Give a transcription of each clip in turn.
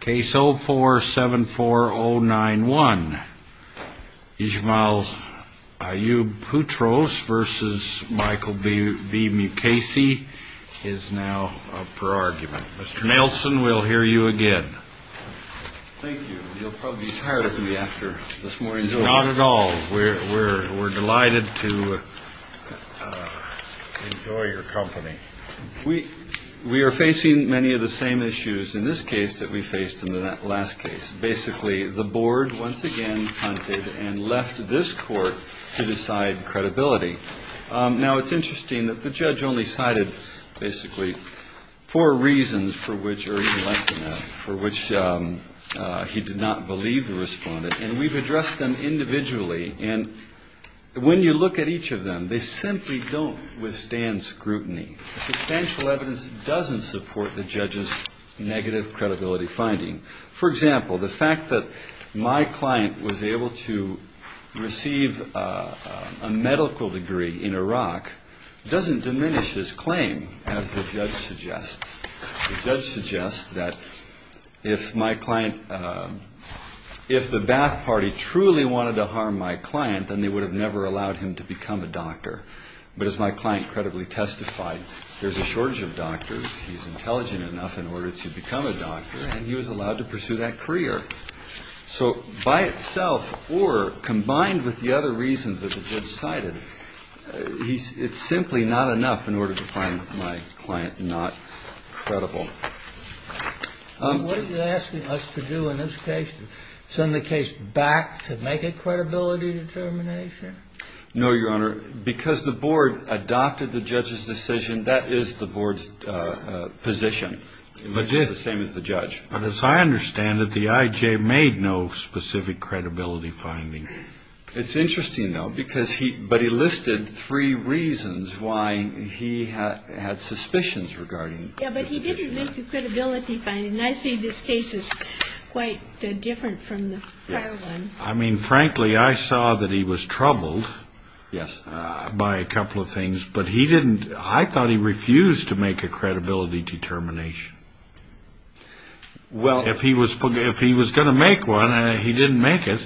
Case 04-74091. Ismail Ayoub Putros v. Michael B. Mukasey is now up for argument. Mr. Nelson, we'll hear you again. Thank you. You'll probably be tired of me after this morning's work. Not at all. We're delighted to enjoy your company. We are facing many of the same issues in this case that we faced in the last case. Basically, the board once again hunted and left this court to decide credibility. Now, it's interesting that the judge only cited basically four reasons for which, or even less than that, for which he did not believe the respondent. And we've addressed them individually. And when you look at each of them, they simply don't withstand scrutiny. Substantial evidence doesn't support the judge's negative credibility finding. For example, the fact that my client was able to receive a medical degree in Iraq doesn't diminish his claim, as the judge suggests. The judge suggests that if my client, if the Ba'ath Party truly wanted to harm my client, then they would have never allowed him to become a doctor. But as my client credibly testified, there's a shortage of doctors. He's intelligent enough in order to become a doctor, and he was allowed to pursue that career. So by itself, or combined with the other reasons that the judge cited, it's simply not enough in order to find my client not credible. What are you asking us to do in this case, to send the case back to make a credibility determination? No, Your Honor. Because the board adopted the judge's decision, that is the board's position. It's the same as the judge. But as I understand it, the I.J. made no specific credibility finding. It's interesting, though, because he, but he listed three reasons why he had suspicions regarding. Yeah, but he didn't make a credibility finding, and I see this case is quite different from the prior one. I mean, frankly, I saw that he was troubled by a couple of things, but he didn't, I thought he refused to make a credibility determination. Well, if he was going to make one and he didn't make it,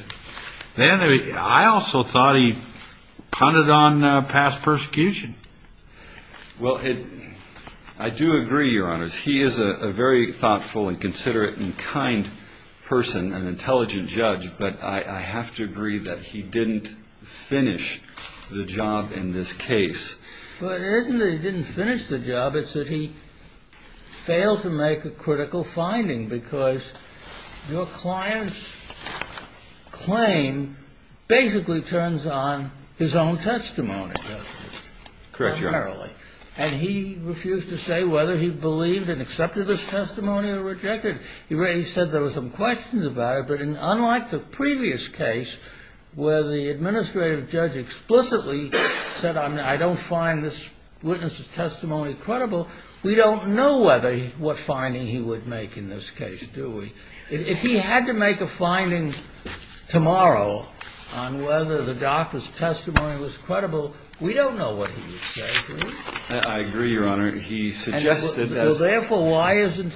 then I also thought he punted on past persecution. Well, I do agree, Your Honor. He is a very thoughtful and considerate and kind person, an intelligent judge, but I have to agree that he didn't finish the job in this case. But it isn't that he didn't finish the job. It's that he failed to make a critical finding, because your client's claim basically turns on his own testimony. Correct, Your Honor. Apparently. And he refused to say whether he believed and accepted his testimony or rejected it. He said there were some questions about it, but unlike the previous case where the administrative judge explicitly said, I don't find this witness's testimony credible, we don't know what finding he would make in this case, do we? If he had to make a finding tomorrow on whether the doctor's testimony was credible, we don't know what he would say, do we? I agree, Your Honor. And therefore, why isn't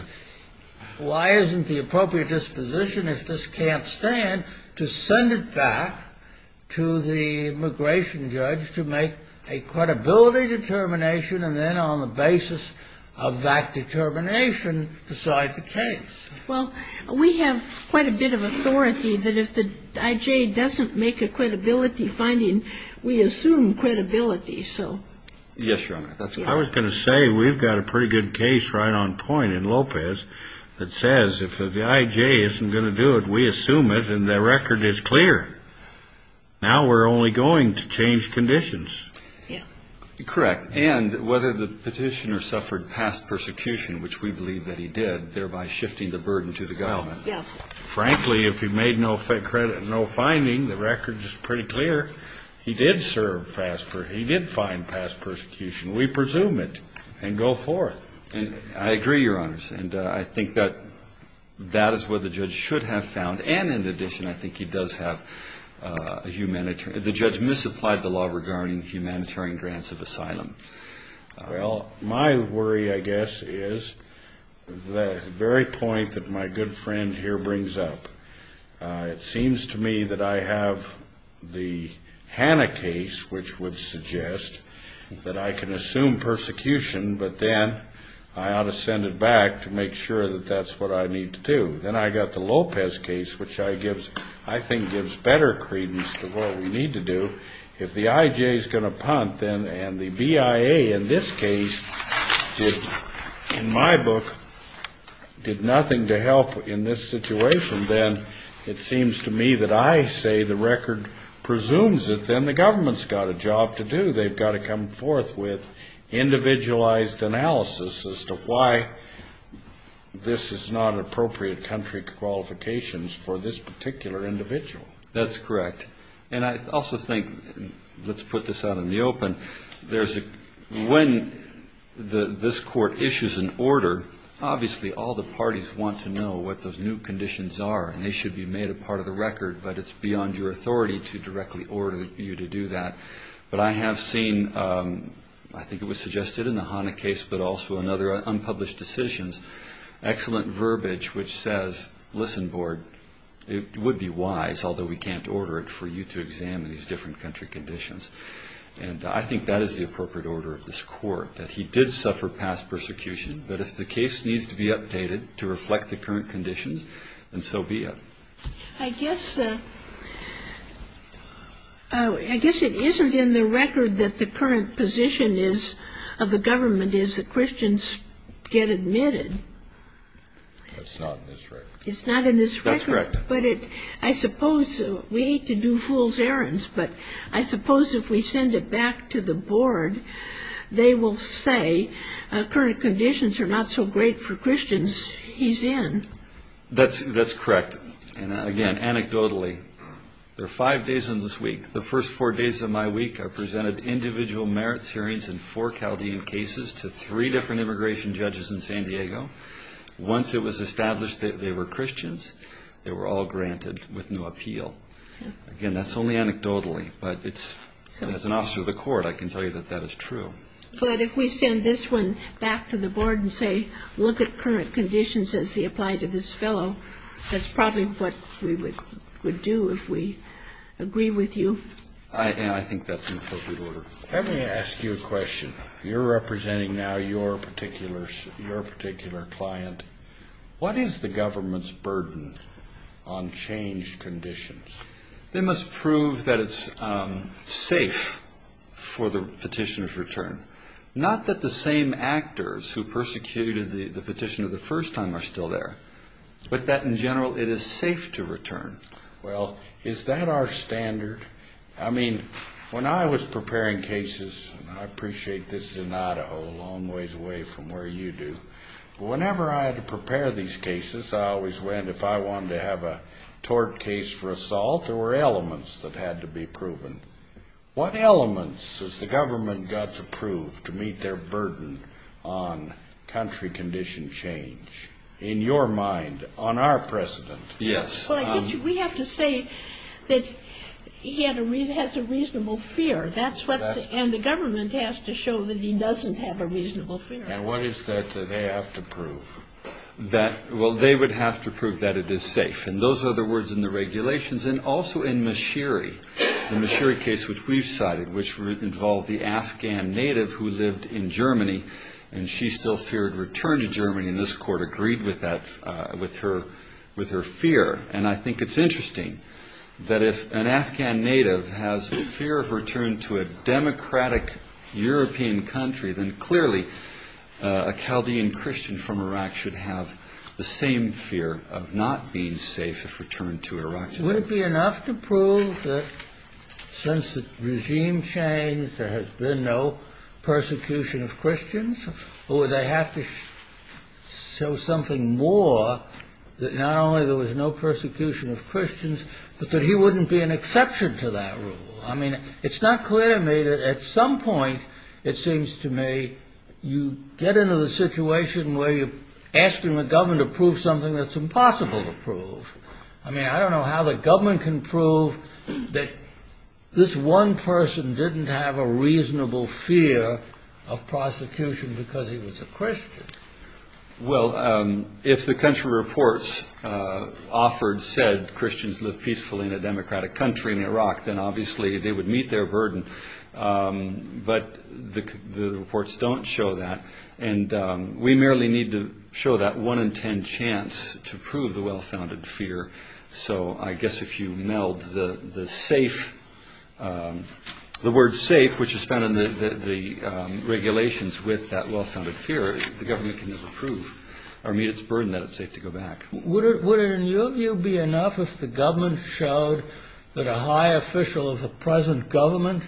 the appropriate disposition, if this can't stand, to send it back to the immigration judge to make a credibility determination and then on the basis of that determination decide the case? Well, we have quite a bit of authority that if the I.J. doesn't make a credibility finding, we assume credibility, so. Yes, Your Honor. I was going to say we've got a pretty good case right on point in Lopez that says if the I.J. isn't going to do it, we assume it, and the record is clear. Now we're only going to change conditions. Yeah. Correct. And whether the petitioner suffered past persecution, which we believe that he did, thereby shifting the burden to the government. Yes. Frankly, if he made no finding, the record is pretty clear. He did find past persecution. We presume it and go forth. I agree, Your Honors. And I think that that is where the judge should have found, and in addition, I think he does have a humanitarian. The judge misapplied the law regarding humanitarian grants of asylum. Well, my worry, I guess, is the very point that my good friend here brings up. It seems to me that I have the Hanna case, which would suggest that I can assume persecution, but then I ought to send it back to make sure that that's what I need to do. Then I've got the Lopez case, which I think gives better credence to what we need to do. If the I.J. is going to punt and the BIA in this case did, in my book, did nothing to help in this situation, then it seems to me that I say the record presumes it. Then the government's got a job to do. They've got to come forth with individualized analysis as to why this is not an appropriate country qualifications for this particular individual. That's correct. And I also think, let's put this out in the open, when this court issues an order, obviously all the parties want to know what those new conditions are, and they should be made a part of the record, but it's beyond your authority to directly order you to do that. But I have seen, I think it was suggested in the Hanna case, but also in other unpublished decisions, excellent verbiage which says, listen, board, it would be wise, although we can't order it, for you to examine these different country conditions. And I think that is the appropriate order of this court, that he did suffer past persecution, but if the case needs to be updated to reflect the current conditions, then so be it. I guess it isn't in the record that the current position is, of the government, is that Christians get admitted. That's not in this record. It's not in this record. That's correct. But I suppose, we hate to do fool's errands, but I suppose if we send it back to the board, they will say current conditions are not so great for Christians. He's in. That's correct. And again, anecdotally, there are five days in this week. The first four days of my week I presented individual merits hearings in four Chaldean cases to three different immigration judges in San Diego. Once it was established that they were Christians, they were all granted with no appeal. Again, that's only anecdotally, but it's, as an officer of the court, I can tell you that that is true. But if we send this one back to the board and say, look at current conditions as they apply to this fellow, that's probably what we would do if we agree with you. I think that's an appropriate order. Let me ask you a question. You're representing now your particular client. What is the government's burden on changed conditions? They must prove that it's safe for the petitioner's return. Not that the same actors who persecuted the petitioner the first time are still there, but that in general it is safe to return. Well, is that our standard? I mean, when I was preparing cases, and I appreciate this is in Idaho, a long ways away from where you do, but whenever I had to prepare these cases, I always went, if I wanted to have a tort case for assault, there were elements that had to be proven. What elements has the government got to prove to meet their burden on country condition change, in your mind, on our precedent? Yes. Well, I guess we have to say that he has a reasonable fear, and the government has to show that he doesn't have a reasonable fear. And what is that they have to prove? Well, they would have to prove that it is safe. And those are the words in the regulations. And also in Mashiri, the Mashiri case which we've cited, which involved the Afghan native who lived in Germany, and she still feared return to Germany, and this court agreed with her fear. And I think it's interesting that if an Afghan native has a fear of return to a democratic European country, then clearly a Chaldean Christian from Iraq should have the same fear of not being safe if returned to Iraq. Wouldn't it be enough to prove that since the regime changed, there has been no persecution of Christians? Or would they have to show something more that not only there was no persecution of Christians, but that he wouldn't be an exception to that rule? I mean, it's not clear to me that at some point it seems to me you get into the situation where you're asking the government to prove something that's impossible to prove. I mean, I don't know how the government can prove that this one person didn't have a reasonable fear of prosecution because he was a Christian. Well, if the country reports offered, said Christians lived peacefully in a democratic country in Iraq, then obviously they would meet their burden. But the reports don't show that. And we merely need to show that one in ten chance to prove the well-founded fear. So I guess if you meld the word safe, which is found in the regulations with that well-founded fear, the government can just prove or meet its burden that it's safe to go back. Would it, in your view, be enough if the government showed that a high official of the present government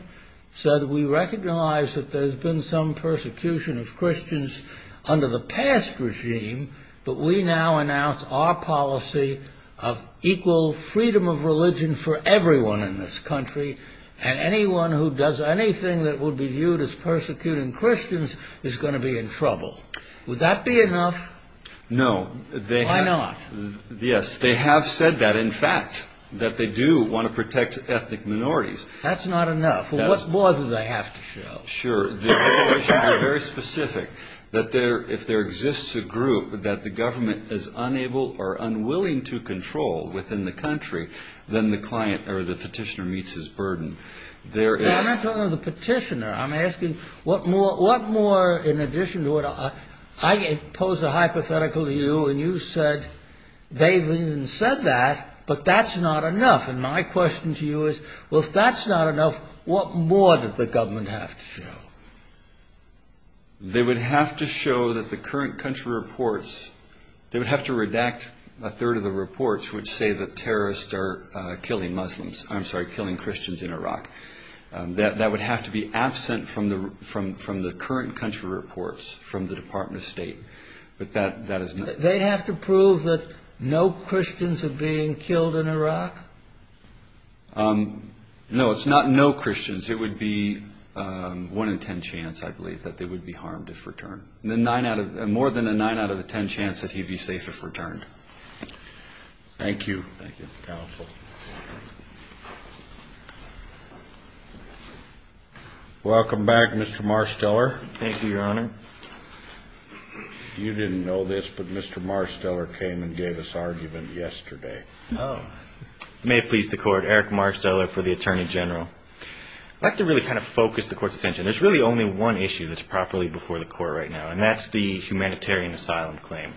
said, we recognize that there's been some persecution of Christians under the past regime, but we now announce our policy of equal freedom of religion for everyone in this country, and anyone who does anything that would be viewed as persecuting Christians is going to be in trouble. Would that be enough? No. Why not? Yes. They have said that, in fact, that they do want to protect ethnic minorities. That's not enough. Well, what more do they have to show? Well, sure. The regulations are very specific. That if there exists a group that the government is unable or unwilling to control within the country, then the client or the petitioner meets his burden. I'm not talking about the petitioner. I'm asking what more, in addition to what I posed a hypothetical to you, and you said they've even said that, but that's not enough. And my question to you is, well, if that's not enough, what more does the government have to show? They would have to show that the current country reports, they would have to redact a third of the reports which say that terrorists are killing Muslims. I'm sorry, killing Christians in Iraq. That would have to be absent from the current country reports from the Department of State. They'd have to prove that no Christians are being killed in Iraq? No, it's not no Christians. It would be one in ten chance, I believe, that they would be harmed if returned. More than a nine out of a ten chance that he'd be safe if returned. Thank you. Thank you, counsel. Welcome back, Mr. Marsteller. Thank you, Your Honor. You didn't know this, but Mr. Marsteller came and gave us argument yesterday. May it please the Court. Eric Marsteller for the Attorney General. I'd like to really kind of focus the Court's attention. There's really only one issue that's properly before the Court right now, and that's the humanitarian asylum claim.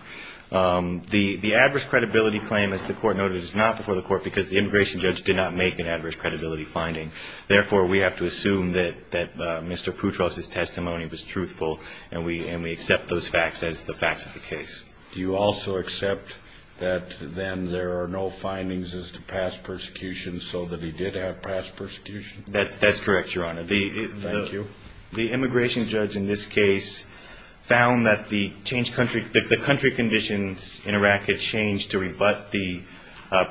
The adverse credibility claim, as the Court noted, is not before the Court because the immigration judge did not make an adverse credibility finding. Therefore, we have to assume that Mr. Proutros' testimony was truthful, and we accept those facts as the facts of the case. Do you also accept that then there are no findings as to past persecution, so that he did have past persecution? That's correct, Your Honor. Thank you. The immigration judge in this case found that the country conditions in Iraq had changed to rebut the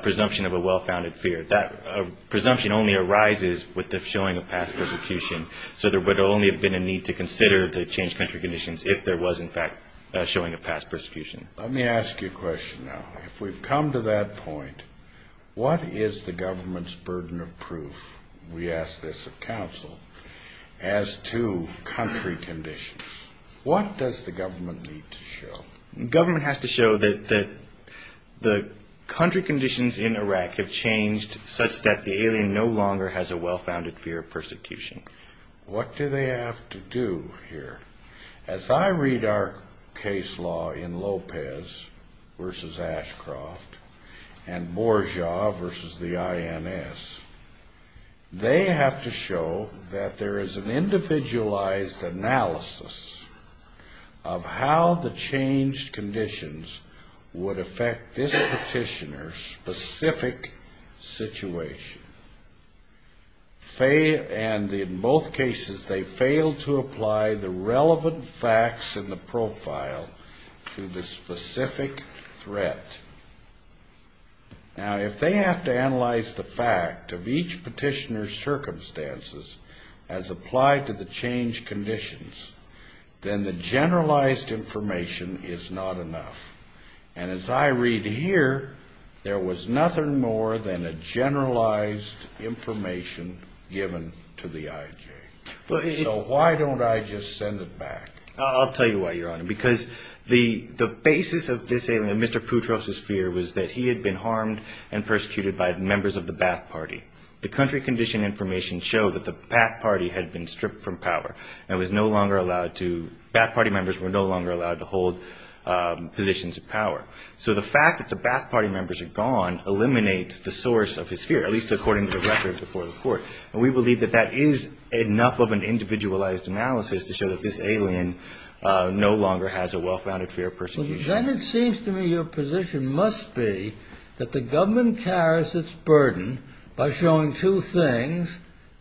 presumption of a well-founded fear. That presumption only arises with the showing of past persecution, so there would only have been a need to consider the changed country conditions if there was, in fact, a showing of past persecution. Let me ask you a question now. If we've come to that point, what is the government's burden of proof, we ask this of counsel, as to country conditions? What does the government need to show? The government has to show that the country conditions in Iraq have changed such that the alien no longer has a well-founded fear of persecution. What do they have to do here? As I read our case law in Lopez v. Ashcroft and Bourgeois v. the INS, they have to show that there is an individualized analysis of how the changed conditions would affect this petitioner's specific situation. And in both cases, they failed to apply the relevant facts in the profile to the specific threat. Now, if they have to analyze the fact of each petitioner's circumstances as applied to the changed conditions, then the generalized information is not enough. And as I read here, there was nothing more than a generalized information given to the IJ. So why don't I just send it back? I'll tell you why, Your Honor. Because the basis of this alien, Mr. Putros' fear, was that he had been harmed and persecuted by members of the Ba'ath Party. The country condition information showed that the Ba'ath Party had been stripped from power and was no longer allowed to – Ba'ath Party members were no longer allowed to hold positions of power. So the fact that the Ba'ath Party members are gone eliminates the source of his fear, at least according to the record before the court. And we believe that that is enough of an individualized analysis to show that this alien no longer has a well-founded fear of persecution. Then it seems to me your position must be that the government carries its burden by showing two things,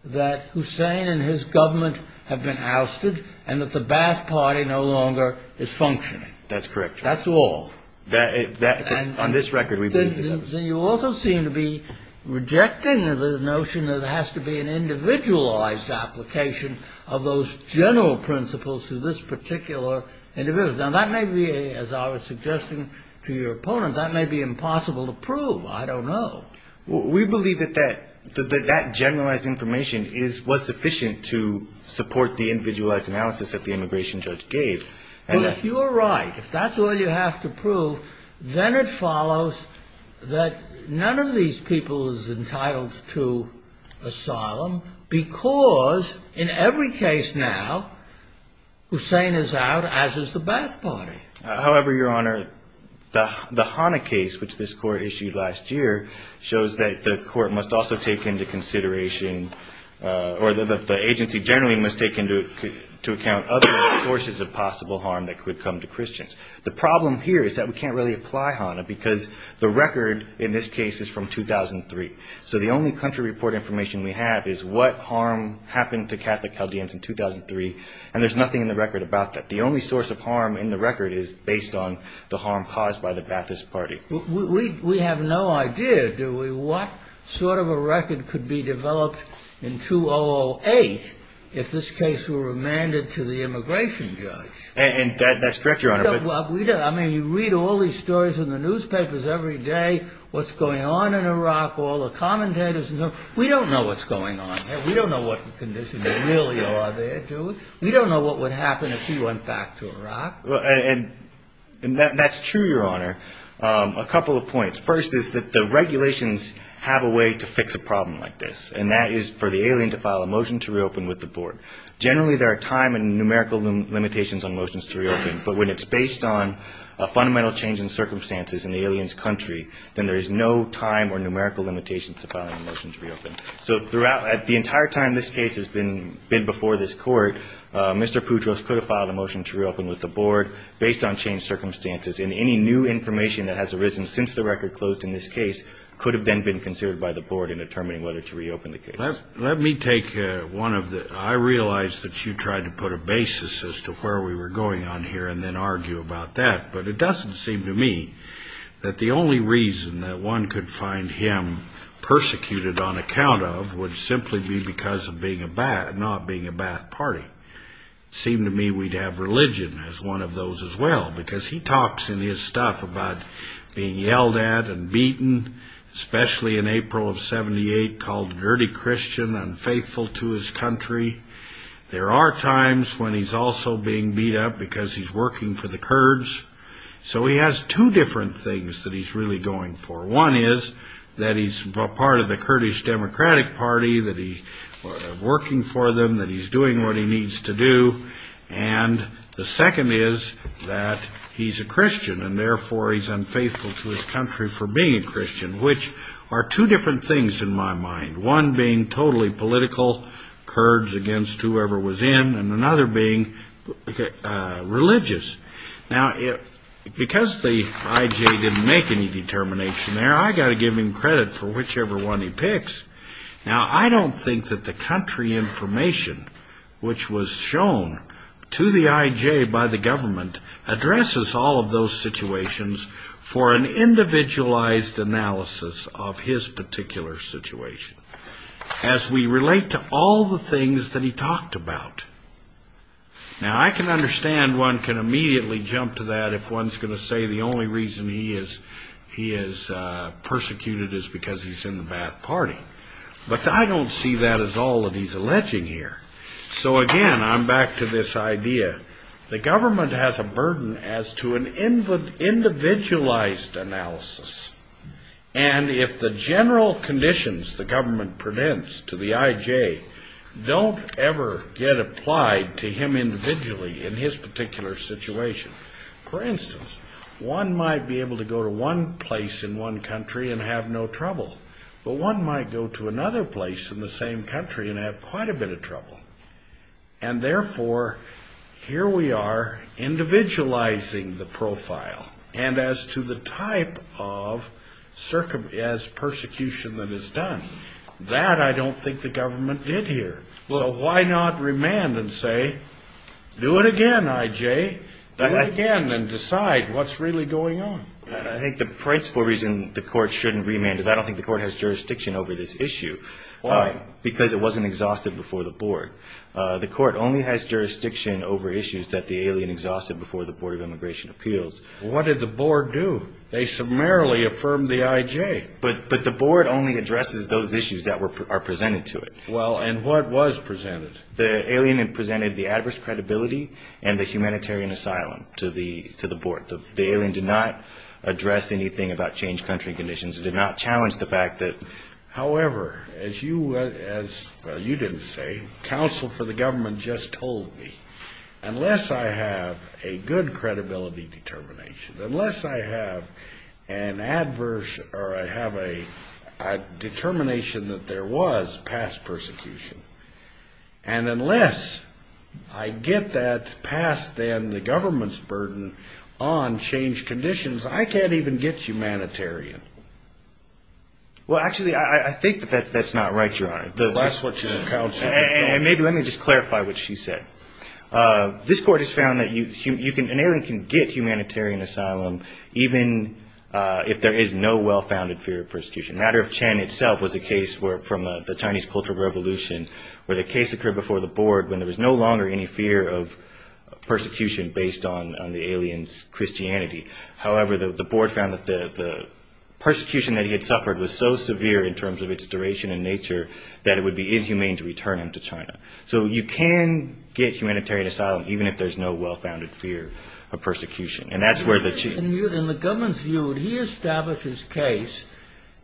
that Hussein and his government have been ousted and that the Ba'ath Party no longer is functioning. That's correct, Your Honor. That's all. On this record, we believe that. Then you also seem to be rejecting the notion that it has to be an individualized application of those general principles to this particular individual. Now, that may be, as I was suggesting to your opponent, that may be impossible to prove. I don't know. We believe that that generalized information was sufficient to support the individualized analysis that the immigration judge gave. Well, if you are right, if that's all you have to prove, then it follows that none of these people is entitled to asylum because, in every case now, Hussein is out, as is the Ba'ath Party. However, Your Honor, the Hana case, which this Court issued last year, shows that the Court must also take into consideration, or that the agency generally must take into account, other sources of possible harm that could come to Christians. The problem here is that we can't really apply Hana because the record in this case is from 2003. So the only country report information we have is what harm happened to Catholic Chaldeans in 2003, and there's nothing in the record about that. The only source of harm in the record is based on the harm caused by the Ba'athist Party. We have no idea, do we, what sort of a record could be developed in 2008 if this case were remanded to the immigration judge. And that's correct, Your Honor. I mean, you read all these stories in the newspapers every day, what's going on in Iraq, all the commentators. We don't know what's going on. We don't know what the conditions really are there, do we? We don't know what would happen if he went back to Iraq. And that's true, Your Honor. A couple of points. First is that the regulations have a way to fix a problem like this, and that is for the alien to file a motion to reopen with the board. Generally there are time and numerical limitations on motions to reopen, but when it's based on a fundamental change in circumstances in the alien's country, then there is no time or numerical limitations to filing a motion to reopen. So throughout, at the entire time this case has been before this court, Mr. Poudros could have filed a motion to reopen with the board based on changed circumstances, and any new information that has arisen since the record closed in this case could have then been considered by the board in determining whether to reopen the case. Let me take one of the, I realize that you tried to put a basis as to where we were going on here and then argue about that, but it doesn't seem to me that the only reason that one could find him persecuted on account of would simply be because of not being a Ba'ath party. It seemed to me we'd have religion as one of those as well, because he talks in his stuff about being yelled at and beaten, especially in April of 78, called a dirty Christian, unfaithful to his country. There are times when he's also being beat up because he's working for the Kurds. So he has two different things that he's really going for. One is that he's part of the Kurdish Democratic Party, that he's working for them, that he's doing what he needs to do. And the second is that he's a Christian, and therefore he's unfaithful to his country for being a Christian, which are two different things in my mind, one being totally political Kurds against whoever was in and another being religious. Now, because the IJ didn't make any determination there, I've got to give him credit for whichever one he picks. Now, I don't think that the country information which was shown to the IJ by the government addresses all of those situations for an individualized analysis of his particular situation, as we relate to all the things that he talked about. Now, I can understand one can immediately jump to that if one's going to say the only reason he is persecuted is because he's in the Ba'ath Party. But I don't see that as all that he's alleging here. So, again, I'm back to this idea. The government has a burden as to an individualized analysis. And if the general conditions the government presents to the IJ don't ever get applied to him individually in his particular situation, for instance, one might be able to go to one place in one country and have no trouble, but one might go to another place in the same country and have quite a bit of trouble. And, therefore, here we are individualizing the profile. And as to the type of persecution that is done, that I don't think the government did here. So why not remand and say, do it again, IJ. Do it again and decide what's really going on. I think the principal reason the court shouldn't remand is I don't think the court has jurisdiction over this issue. Why? Because it wasn't exhausted before the board. The court only has jurisdiction over issues that the alien exhausted before the Board of Immigration Appeals. What did the board do? They summarily affirmed the IJ. But the board only addresses those issues that are presented to it. Well, and what was presented? The alien presented the adverse credibility and the humanitarian asylum to the board. The alien did not address anything about changed country conditions. It did not challenge the fact that, however, as you didn't say, counsel for the government just told me, unless I have a good credibility determination, unless I have an adverse or I have a determination that there was past persecution, and unless I get that past, then, the government's burden on changed conditions, I can't even get humanitarian. Well, actually, I think that that's not right, Your Honor. That's what your counsel said. And maybe let me just clarify what she said. This court has found that an alien can get humanitarian asylum even if there is no well-founded fear of persecution. The matter of Chen itself was a case from the Chinese Cultural Revolution where the case occurred before the board when there was no longer any fear of persecution based on the alien's Christianity. However, the board found that the persecution that he had suffered was so severe in terms of its duration and nature that it would be inhumane to return him to China. So you can get humanitarian asylum even if there's no well-founded fear of persecution. In the government's view, would he establish his case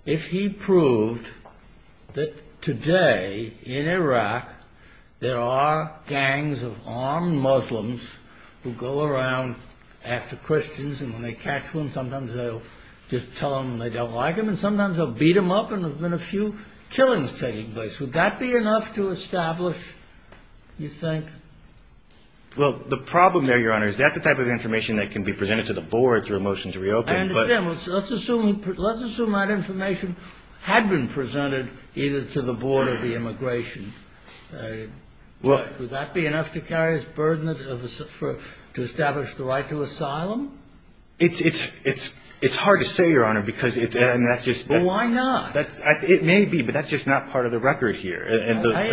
if he proved that today, in Iraq, there are gangs of armed Muslims who go around after Christians, and when they catch them, sometimes they'll just tell them they don't like them, and sometimes they'll beat them up, and there have been a few killings taking place. Would that be enough to establish, you think? Well, the problem there, Your Honor, is that's the type of information that can be presented to the board through a motion to reopen. I understand. Let's assume that information had been presented either to the board or the immigration. Would that be enough to carry as burden to establish the right to asylum? It's hard to say, Your Honor, because it's just... Well, why not? It may be, but that's just not part of the record here. I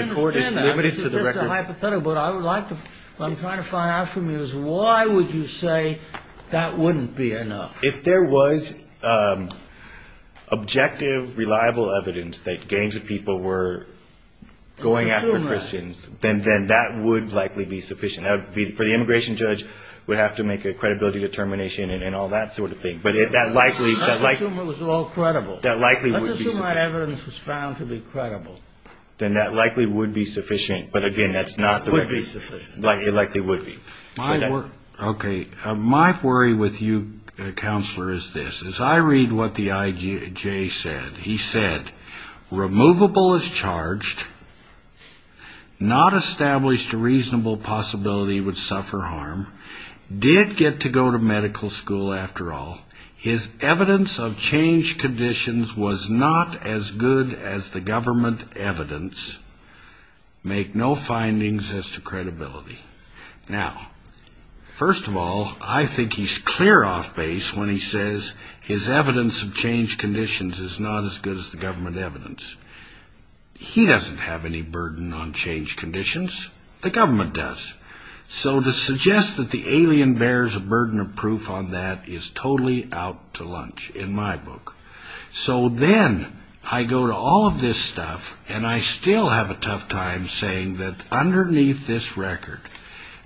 understand that. It's just a hypothetical, but what I'm trying to find out from you is why would you say that wouldn't be enough? If there was objective, reliable evidence that gangs of people were going after Christians, then that would likely be sufficient. For the immigration judge, we'd have to make a credibility determination and all that sort of thing. Let's assume it was all credible. Let's assume that evidence was found to be credible. Then that likely would be sufficient. But, again, that's not the record. It would be sufficient. It likely would be. Okay. My worry with you, Counselor, is this. As I read what the IJ said, he said, Removable as charged. Not established a reasonable possibility he would suffer harm. Did get to go to medical school, after all. His evidence of changed conditions was not as good as the government evidence. Make no findings as to credibility. Now, first of all, I think he's clear off base when he says his evidence of changed conditions is not as good as the government evidence. He doesn't have any burden on changed conditions. The government does. So to suggest that the alien bears a burden of proof on that is totally out to lunch in my book. So then I go to all of this stuff, and I still have a tough time saying that underneath this record,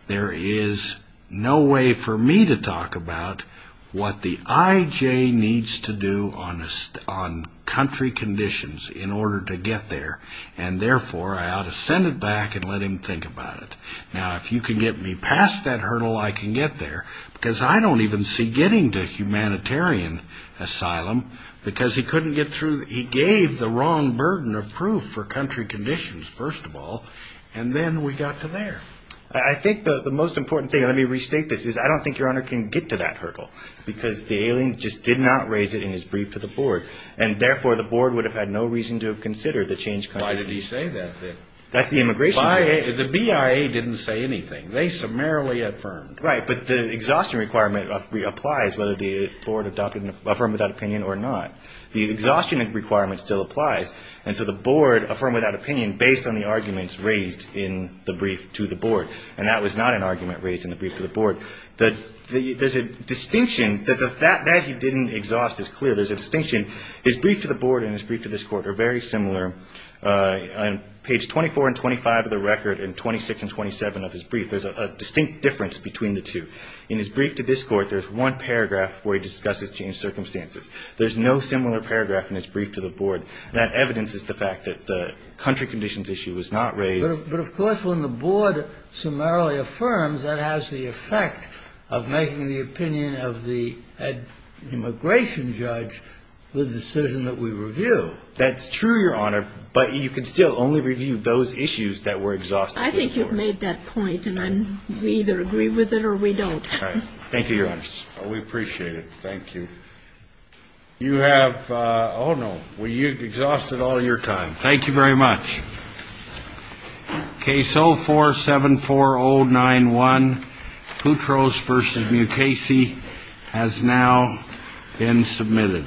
there is no way for me to talk about what the IJ needs to do on country conditions in order to get there. And, therefore, I ought to send it back and let him think about it. Now, if you can get me past that hurdle, I can get there. Because I don't even see getting to humanitarian asylum. Because he couldn't get through. He gave the wrong burden of proof for country conditions, first of all, and then we got to there. I think the most important thing, and let me restate this, is I don't think Your Honor can get to that hurdle. Because the alien just did not raise it in his brief to the board. And, therefore, the board would have had no reason to have considered the changed country. Why did he say that? That's the immigration case. The BIA didn't say anything. They summarily affirmed. Right. But the exhaustion requirement applies whether the board affirmed that opinion or not. The exhaustion requirement still applies. And so the board affirmed that opinion based on the arguments raised in the brief to the board. And that was not an argument raised in the brief to the board. There's a distinction that he didn't exhaust as clear. There's a distinction. His brief to the board and his brief to this court are very similar. On page 24 and 25 of the record and 26 and 27 of his brief, there's a distinct difference between the two. In his brief to this court, there's one paragraph where he discusses changed circumstances. There's no similar paragraph in his brief to the board. And that evidence is the fact that the country conditions issue was not raised. But, of course, when the board summarily affirms, that has the effect of making the opinion of the immigration judge the decision that we review. That's true, Your Honor. But you can still only review those issues that were exhausted. I think you've made that point. And we either agree with it or we don't. Thank you, Your Honor. We appreciate it. Thank you. You have, oh, no. You exhausted all your time. Thank you very much. Case 04-74091, Putros v. Mukasey, has now been submitted.